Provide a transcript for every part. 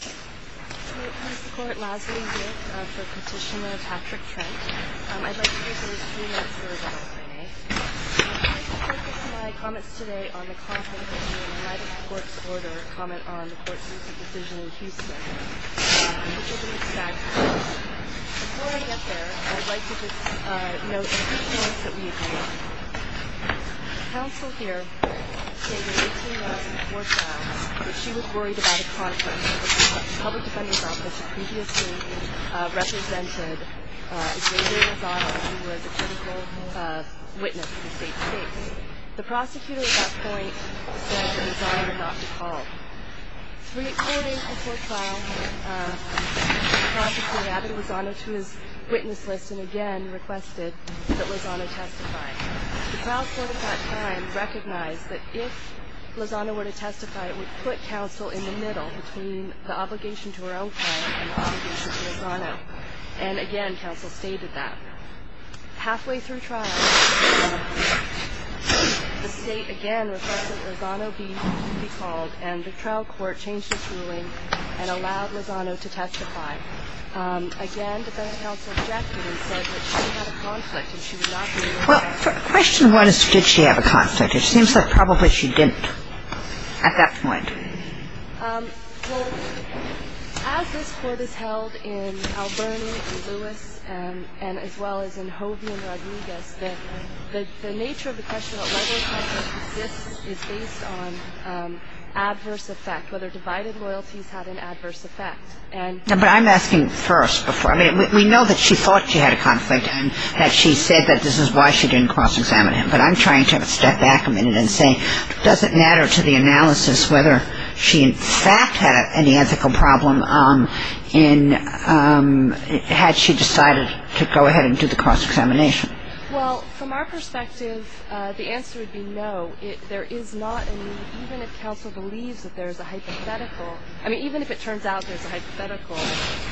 I'm here to support Leslie Wood for Petitioner Patrick Trent. I'd like to use those three minutes for a bit of Q&A. I'd like to focus my comments today on the content of the United Courts Order comment on the Court's recent decision in Houston, which will be expected soon. Before I get there, I'd like to just note a few things that we agreed on. The counsel here stated 18 months before trial that she was worried about a conflict with the public defender's office who previously represented Xavier Lozano who was a critical witness in the state's case. The prosecutor at that point said that Lozano would not be called. Three days before trial, the prosecutor added Lozano to his witness list and again requested that Lozano testify. The trial court at that time recognized that if Lozano were to testify, it would put counsel in the middle between the obligation to her own client and the obligation to Lozano. And again, counsel stated that. Halfway through trial, the state again requested that Lozano be called and the trial court changed its ruling and allowed Lozano to testify. Well, question one is, did she have a conflict? It seems like probably she didn't at that point. Well, as this Court has held in Alberni and Lewis and as well as in Hovey and Rodriguez, that the nature of the question of whether a conflict exists is based on adverse effect, whether divided loyalties have an adverse effect. But I'm asking first before. I mean, we know that she thought she had a conflict and that she said that this is why she didn't cross-examine him. But I'm trying to step back a minute and say, does it matter to the analysis whether she in fact had any ethical problem in had she decided to go ahead and do the cross-examination? Well, from our perspective, the answer would be no. There is not. I mean, even if counsel believes that there is a hypothetical, I mean, even if it turns out there's a hypothetical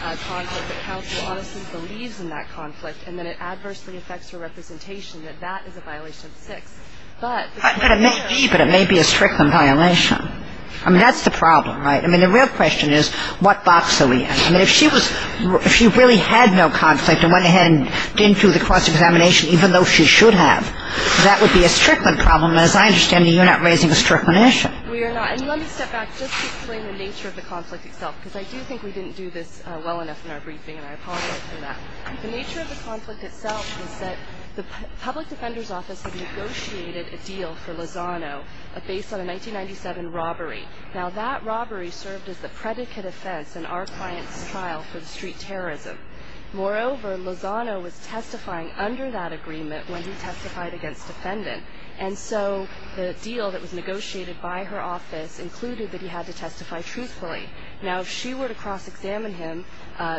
conflict, that counsel honestly believes in that conflict and then it adversely affects her representation, that that is a violation of 6. But it's not fair. But it may be. But it may be a Strickland violation. I mean, that's the problem, right? I mean, the real question is what box are we in? I mean, if she was, if she really had no conflict and went ahead and didn't do the cross-examination, even though she should have, that would be a Strickland problem. And as I understand it, you're not raising a Strickland issue. We are not. And let me step back just to explain the nature of the conflict itself because I do think we didn't do this well enough in our briefing, and I apologize for that. The nature of the conflict itself was that the public defender's office had negotiated a deal for Lozano based on a 1997 robbery. Now, that robbery served as the predicate offense in our client's trial for the street terrorism. Moreover, Lozano was testifying under that agreement when he testified against defendant. And so the deal that was negotiated by her office included that he had to testify truthfully. Now, if she were to cross-examine him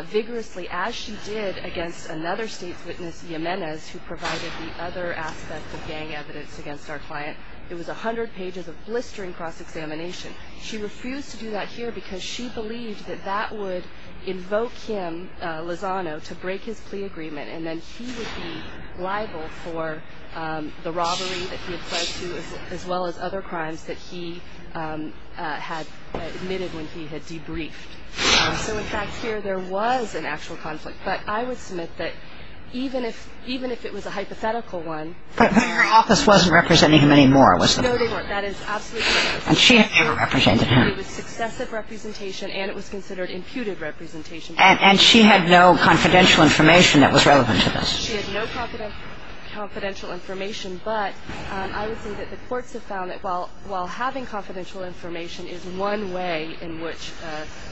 vigorously as she did against another state's witness, Jimenez, who provided the other aspects of gang evidence against our client, it was 100 pages of blistering cross-examination. She refused to do that here because she believed that that would invoke him, Lozano, to break his plea agreement, and then he would be liable for the robbery that he had fled to as well as other crimes that he had admitted when he had debriefed. So, in fact, here there was an actual conflict. But I would submit that even if it was a hypothetical one. But her office wasn't representing him anymore, was it? No, they weren't. That is absolutely correct. And she had never represented him. It was successive representation, and it was considered imputed representation. And she had no confidential information that was relevant to this. She had no confidential information. But I would say that the courts have found that while having confidential information is one way in which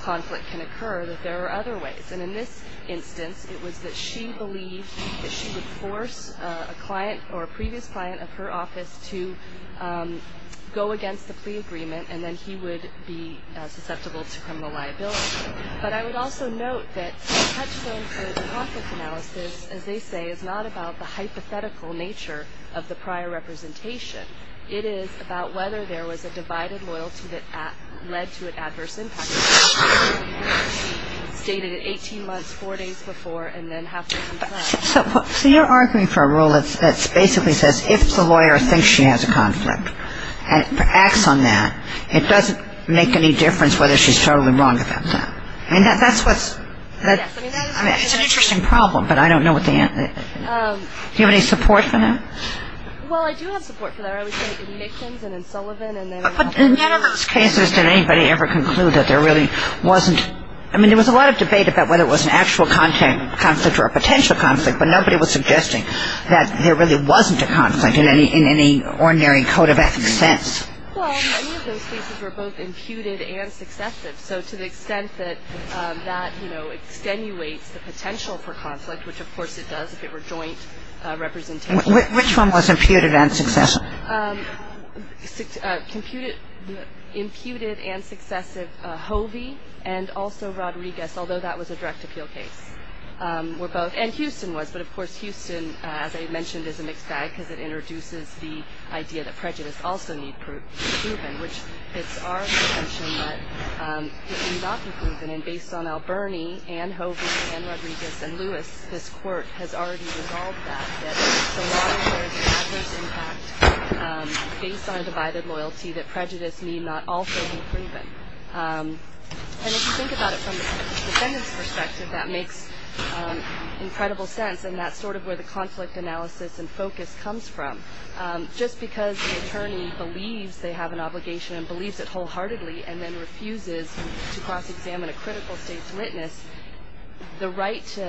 conflict can occur, that there are other ways. And in this instance, it was that she believed that she would force a client or a previous client of her office to go against the plea agreement, and then he would be susceptible to criminal liability. But I would also note that the touchstone for the conflict analysis, as they say, is not about the hypothetical nature of the prior representation. It is about whether there was a divided loyalty that led to an adverse impact. She stated it 18 months, four days before, and then halfway through the trial. So you're arguing for a rule that basically says if the lawyer thinks she has a conflict and acts on that, it doesn't make any difference whether she's totally wrong about that. And that's what's ‑‑ it's an interesting problem, but I don't know what the answer is. Do you have any support for that? Well, I do have support for that. I always say it in Dickens and in Sullivan. But in none of those cases did anybody ever conclude that there really wasn't ‑‑ I mean, there was a lot of debate about whether it was an actual conflict or a potential conflict, but nobody was suggesting that there really wasn't a conflict in any ordinary code of ethics sense. Well, many of those cases were both imputed and successive. So to the extent that that, you know, extenuates the potential for conflict, which of course it does if it were joint representation. Which one was imputed and successive? Imputed and successive, Hovey and also Rodriguez, although that was a direct appeal case, were both. And Houston was. But, of course, Houston, as I mentioned, is a mixed bag because it introduces the idea that prejudice also need to be proven, which it's our intention that it need not be proven. And based on Alberni and Hovey and Rodriguez and Lewis, this court has already resolved that, that the law has an adverse impact based on a divided loyalty that prejudice need not also be proven. And if you think about it from the defendant's perspective, that makes incredible sense. And that's sort of where the conflict analysis and focus comes from. Just because the attorney believes they have an obligation and believes it wholeheartedly and then refuses to cross-examine a critical state's witness, the right to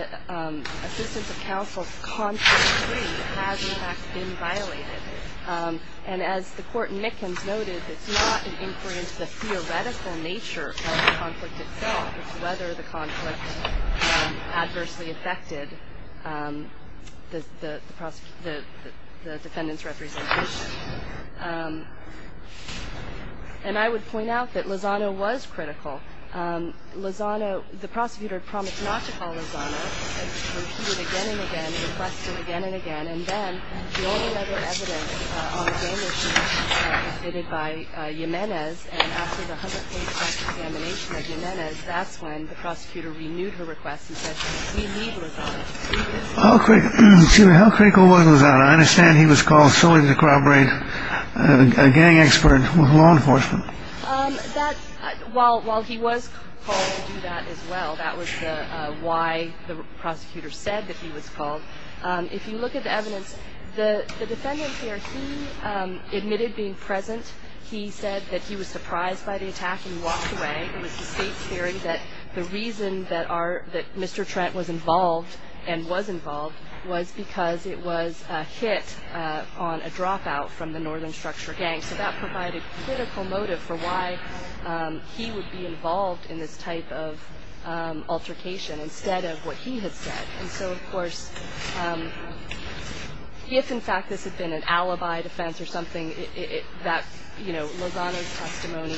assistance of counsel's conflict decree has, in fact, been violated. And as the court in Mickens noted, it's not an inquiry into the theoretical nature of the conflict itself. It's whether the conflict adversely affected the defendant's representation. And I would point out that Lozano was critical. Lozano, the prosecutor promised not to call Lozano. It was repeated again and again, requested again and again. And then the only other evidence on the damage was submitted by Jimenez. And after the 100-page cross-examination of Jimenez, that's when the prosecutor renewed her request. He said, we need Lozano. How critical was Lozano? I understand he was called solely to corroborate a gang expert with law enforcement. While he was called to do that as well, that was why the prosecutor said that he was called. If you look at the evidence, the defendant here, he admitted being present. He said that he was surprised by the attack and walked away. It was the state's theory that the reason that Mr. Trent was involved and was involved was because it was a hit on a dropout from the Northern Structure Gang. So that provided critical motive for why he would be involved in this type of altercation instead of what he had said. And so, of course, if, in fact, this had been an alibi defense or something, that Lozano's testimony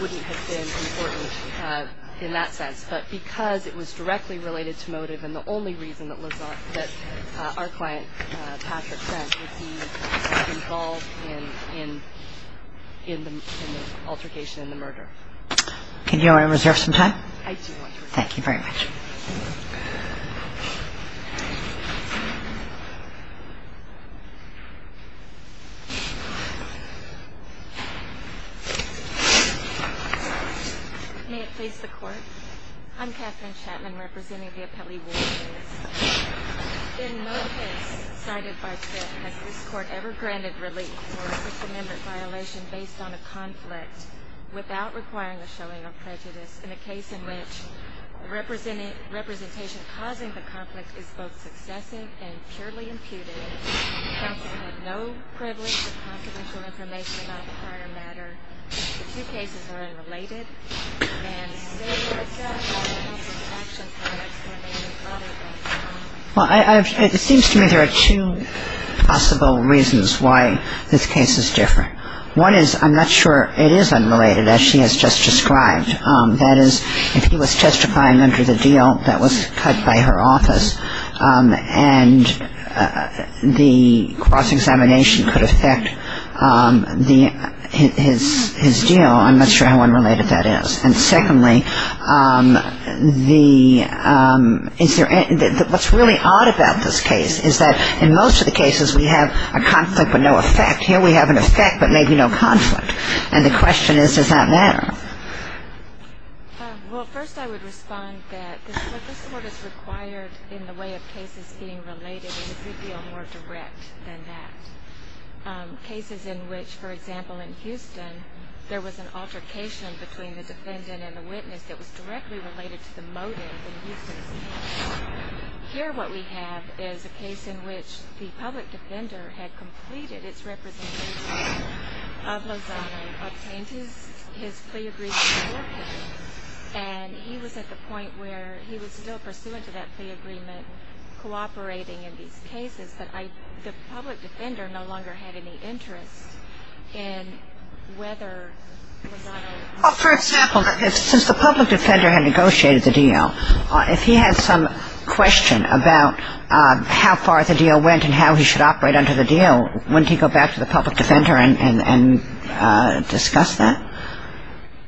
wouldn't have been important in that sense. But because it was directly related to motive and the only reason that our client, Patrick Trent, would be involved in the altercation and the murder. Can you allow me to reserve some time? I do. Thank you very much. Thank you. May it please the Court. I'm Katherine Chapman representing the appellee Ward Davis. In no case cited by Trent has this Court ever granted relief for a system member's violation based on a conflict without requiring the showing of prejudice in a case in which representation causing the conflict is both successive and purely imputed. Counsel have no privilege of confidential information about the prior matter. These two cases are unrelated. And say that it's not a conflict of action for which there may be other reasons. Well, it seems to me there are two possible reasons why this case is different. One is I'm not sure it is unrelated as she has just described. That is, if he was testifying under the deal that was cut by her office and the cross-examination could affect his deal, I'm not sure how unrelated that is. And secondly, what's really odd about this case is that in most of the cases we have a conflict with no effect. Here we have an effect but maybe no conflict. And the question is, does that matter? Well, first I would respond that this Court is required in the way of cases being related in a good deal more direct than that. Cases in which, for example, in Houston there was an altercation between the defendant and the witness that was directly related to the motive in Houston's case. Here what we have is a case in which the public defender had completed its representation of Lozano and obtained his plea agreement for him. And he was at the point where he was still pursuant to that plea agreement cooperating in these cases, but the public defender no longer had any interest in whether Lozano was... For example, since the public defender had negotiated the deal, if he had some question about how far the deal went and how he should operate under the deal, wouldn't he go back to the public defender and discuss that?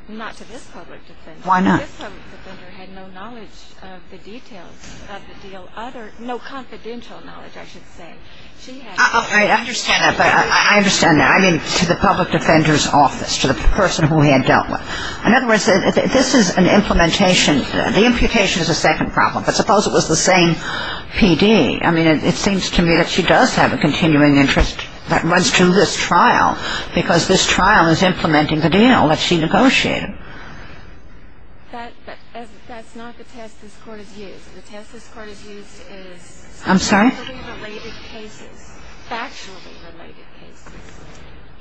Not to this public defender. Why not? This public defender had no knowledge of the details of the deal, no confidential knowledge, I should say. I understand that, but I understand that. I mean to the public defender's office, to the person who he had dealt with. In other words, this is an implementation. The imputation is a second problem, but suppose it was the same PD. I mean, it seems to me that she does have a continuing interest that runs through this trial because this trial is implementing the deal that she negotiated. That's not the test this Court has used. The test this Court has used is... I'm sorry? Factually related cases. Factually related cases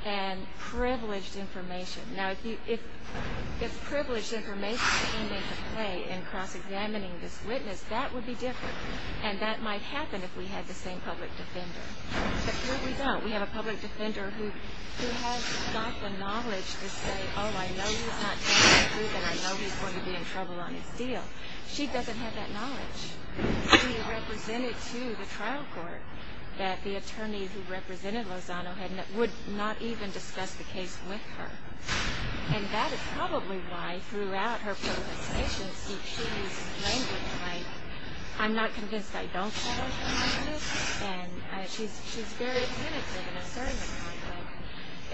and privileged information. Now, if privileged information came into play in cross-examining this witness, that would be different, and that might happen if we had the same public defender. But here we don't. We have a public defender who has got the knowledge to say, oh, I know he's not telling the truth and I know he's going to be in trouble on his deal. She doesn't have that knowledge. She represented to the trial court that the attorney who represented Lozano would not even discuss the case with her, and that is probably why throughout her protestations she is languishing. Like, I'm not convinced I don't have a conflict, and she's very tentative in asserting a conflict.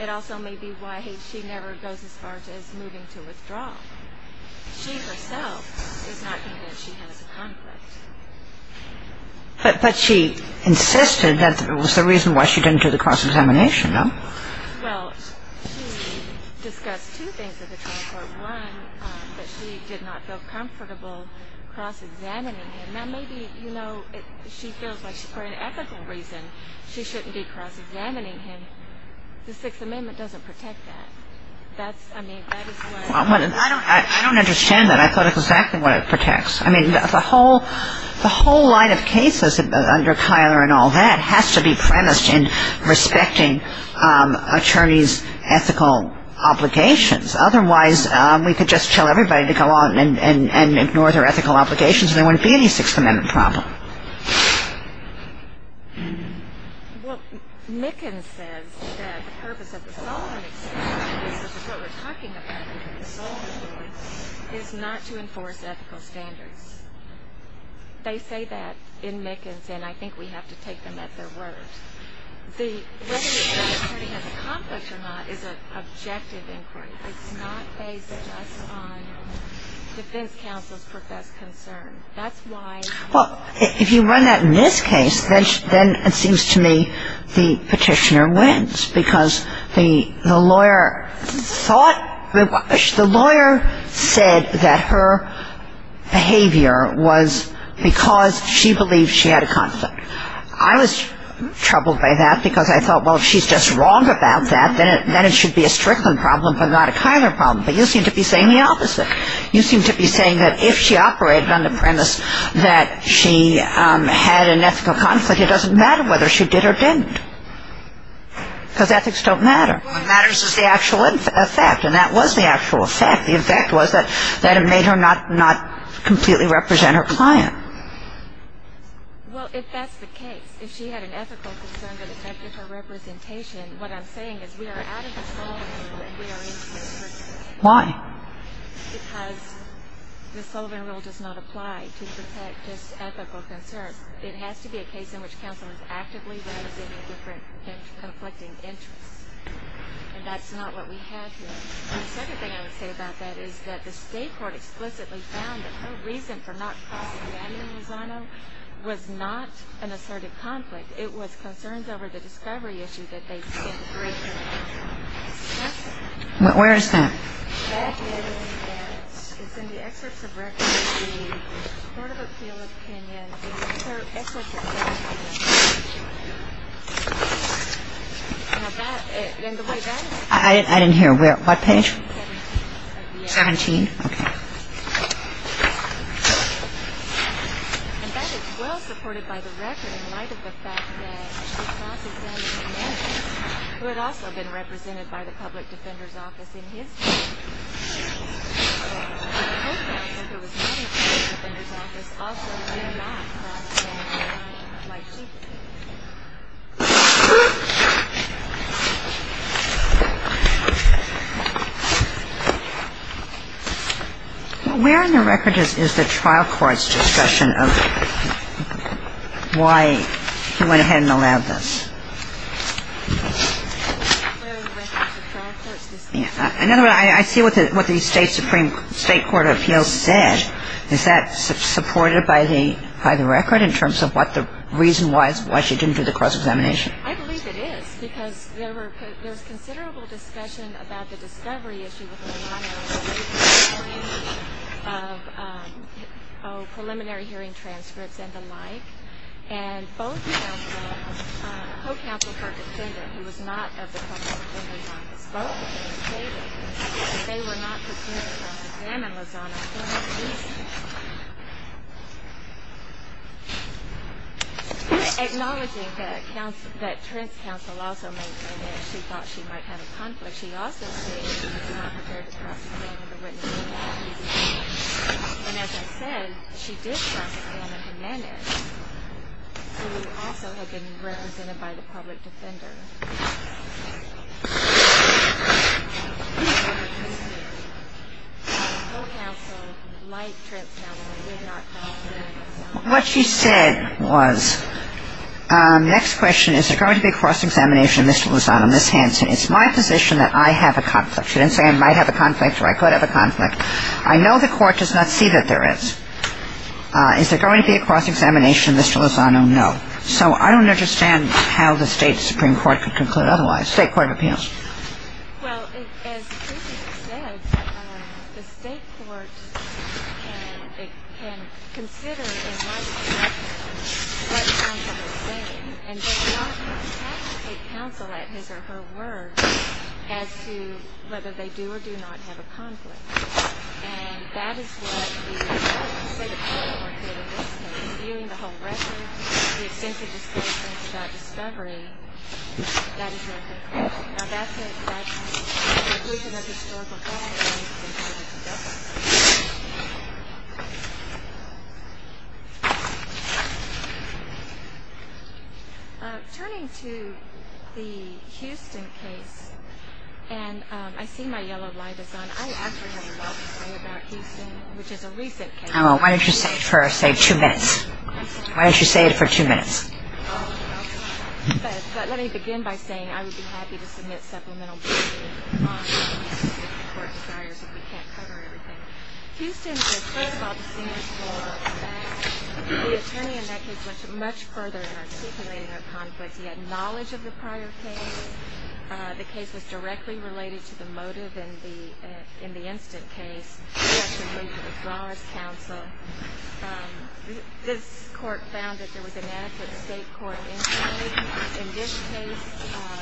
It also may be why she never goes as far as moving to withdraw. She herself is not convinced she has a conflict. But she insisted that it was the reason why she didn't do the cross-examination, though. Well, she discussed two things at the trial court. One, that she did not feel comfortable cross-examining him. Now, maybe, you know, she feels like for an ethical reason she shouldn't be cross-examining him. The Sixth Amendment doesn't protect that. I don't understand that. I thought it was exactly what it protects. I mean, the whole line of cases under Kyler and all that has to be premised in respecting attorneys' ethical obligations. Otherwise, we could just tell everybody to go on and ignore their ethical obligations and there wouldn't be any Sixth Amendment problem. Well, Mickens says that the purpose of the Solemn Experiment, which is what we're talking about in the Solemn Court, is not to enforce ethical standards. They say that in Mickens, and I think we have to take them at their word. Whether the attorney has a conflict or not is an objective inquiry. It's not based just on defense counsel's professed concern. Well, if you run that in this case, then it seems to me the petitioner wins because the lawyer said that her behavior was because she believed she had a conflict. I was troubled by that because I thought, well, if she's just wrong about that, then it should be a Strickland problem but not a Kyler problem. But you seem to be saying the opposite. You seem to be saying that if she operated on the premise that she had an ethical conflict, it doesn't matter whether she did or didn't because ethics don't matter. What matters is the actual effect, and that was the actual effect. The effect was that it made her not completely represent her client. Well, if that's the case, if she had an ethical concern that affected her representation, what I'm saying is we are out of the Sullivan rule and we are into the Strickland rule. Why? Because the Sullivan rule does not apply to protect just ethical concerns. It has to be a case in which counsel is actively raising a different conflicting interest, and that's not what we have here. The second thing I would say about that is that the state court explicitly found that her reason for not crossing Daniel Lozano was not an assertive conflict. It was concerns over the discovery issue that they didn't break it. Where is that? That is in the excerpts of record of the Court of Appeal opinion. I didn't hear. What page? 17. 17? Okay. And that is well supported by the record in light of the fact that it crosses Daniel's name, who had also been represented by the public defender's office in his case. And the court found that there was not a public defender's office also who did not cross Daniel's name like she did. Where in the record is the trial court's discussion of why he went ahead and allowed this? In other words, I see what the state supreme state court of appeals said. Is that supported by the record in terms of what the reason was, why she didn't do the cross-examination? Acknowledging that Trent's counsel also maintained that she thought she might have a conflict, she also stated that she was not prepared to cross the name of the witness. And as I said, she did cross the name of Hernandez, who also had been represented by the public defender. No counsel like Trent's counsel did not cross Daniel's name. What she said was, next question, is there going to be a cross-examination of Mr. Lozano, Ms. Hanson? It's my position that I have a conflict. She didn't say I might have a conflict or I could have a conflict. I know the court does not see that there is. Is there going to be a cross-examination of Mr. Lozano? No. So I don't understand how the state supreme court could conclude otherwise, state court of appeals. Well, as the precinct said, the state court can consider in light of what counsel is saying and does not have to take counsel at his or her word as to whether they do or do not have a conflict. And that is what the state of Florida court did in this case, is viewing the whole record, the extensive disclosures about discovery. That is their conclusion. Now, that's it. That's the conclusion of historical facts. Turning to the Houston case, and I see my yellow light is on. I actually have a lot to say about Houston, which is a recent case. Why don't you say it for, say, two minutes. Why don't you say it for two minutes. Let me begin by saying I would be happy to submit supplemental briefings if the court desires, if we can't cover everything. Houston, first of all, the senior school, the attorney in that case went much further in articulating a conflict. He had knowledge of the prior case. The case was directly related to the motive in the instant case. It was directly related as well as counsel. This court found that there was an ad for the state court in this case.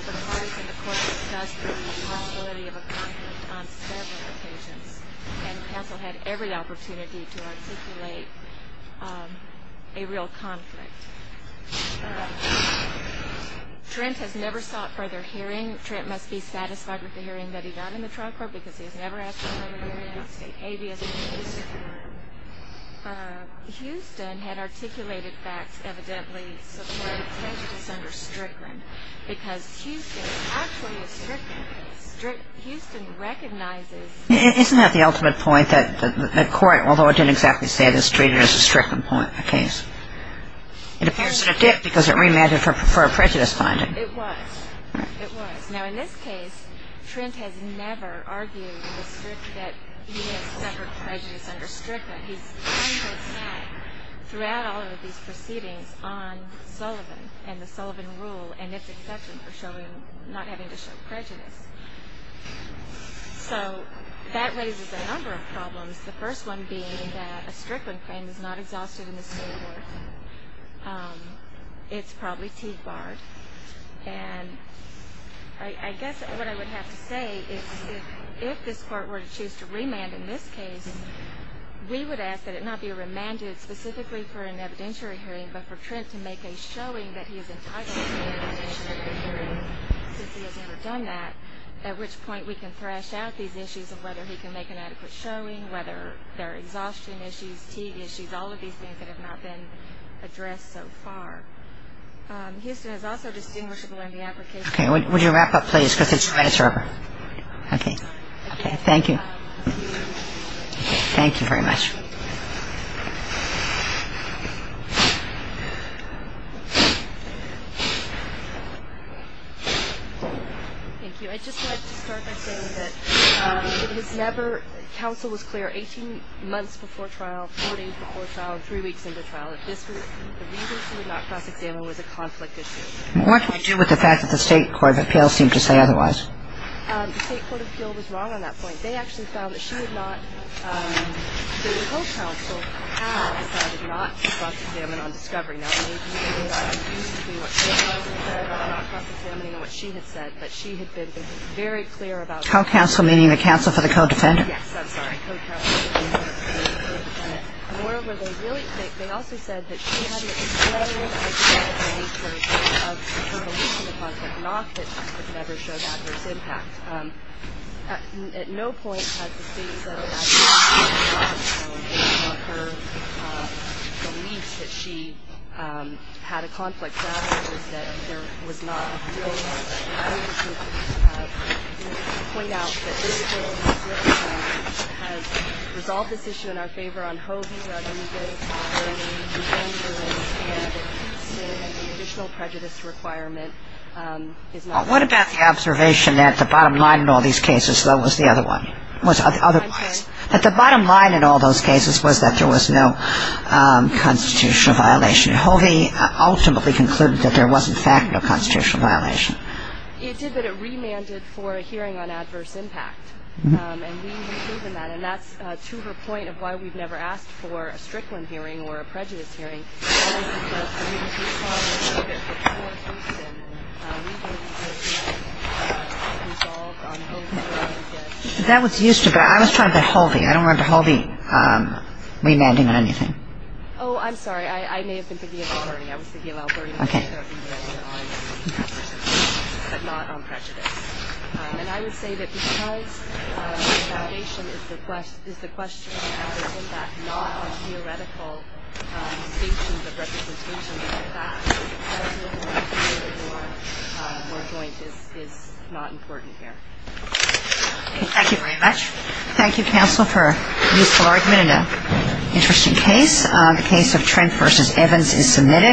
The parties in the court discussed the vulnerability of a conflict on several occasions. And counsel had every opportunity to articulate a real conflict. Trent has never sought further hearing. Trent must be satisfied with the hearing that he got in the trial court because he has never asked for further hearing on state habeas. Houston had articulated facts evidently supporting prejudice under Strickland because Houston is actually a Strickland case. Houston recognizes- Isn't that the ultimate point, that the court, although it didn't exactly say this, treated it as a Strickland case? It appears that it did because it reimagined it for a prejudice finding. It was. It was. Now, in this case, Trent has never argued that he has suffered prejudice under Strickland. He's kind of sat throughout all of these proceedings on Sullivan and the Sullivan rule and its exception for not having to show prejudice. So that raises a number of problems, the first one being that a Strickland claim is not exhausted in the state court. It's probably teed barred. And I guess what I would have to say is if this court were to choose to remand in this case, we would ask that it not be remanded specifically for an evidentiary hearing but for Trent to make a showing that he is entitled to an evidentiary hearing since he has never done that, at which point we can thrash out these issues of whether he can make an adequate showing, whether there are exhaustion issues, teed issues, all of these things that have not been addressed so far. Houston is also distinguishable in the application. Okay. Would you wrap up, please, because it's the Reddit server. Okay. Okay. Thank you. Thank you very much. Thank you. I'd just like to start by saying that it was never, counsel was clear 18 months before trial, 14 months before trial, three weeks into trial, that the reason she would not cross-examine was a conflict issue. What can I do with the fact that the State Court of Appeals seemed to say otherwise? The State Court of Appeals was wrong on that point. They actually found that she had not, the co-counsel had decided not to cross-examine on discovery. Now, maybe they got confused between what the co-counsel said about not cross-examining and what she had said, but she had been very clear about that. Co-counsel meaning the counsel for the co-defendant? Yes, I'm sorry, co-counsel. Moreover, they really think, they also said that she had an exploded idea of the nature of her belief in the concept of knock that never showed adverse impact. At no point has the State said that she had a conflict of interest, so her belief that she had a conflict of interest is that there was not. Well, what about the observation that the bottom line in all these cases though was the other one, was otherwise? That the bottom line in all those cases was that there was no constitutional violation. Hovey ultimately concluded that there was in fact no constitutional violation. It did, but it remanded for a hearing on adverse impact. And we believe in that, and that's to her point of why we've never asked for a Strickland hearing or a prejudice hearing. That was used to be. I was trying to get Hovey. I don't remember Hovey remanding on anything. Oh, I'm sorry. I may have been thinking of Alberti. Okay. Thank you very much. Thank you, counsel, for a useful argument and an interesting case. The case of Trent v. Evans is submitted.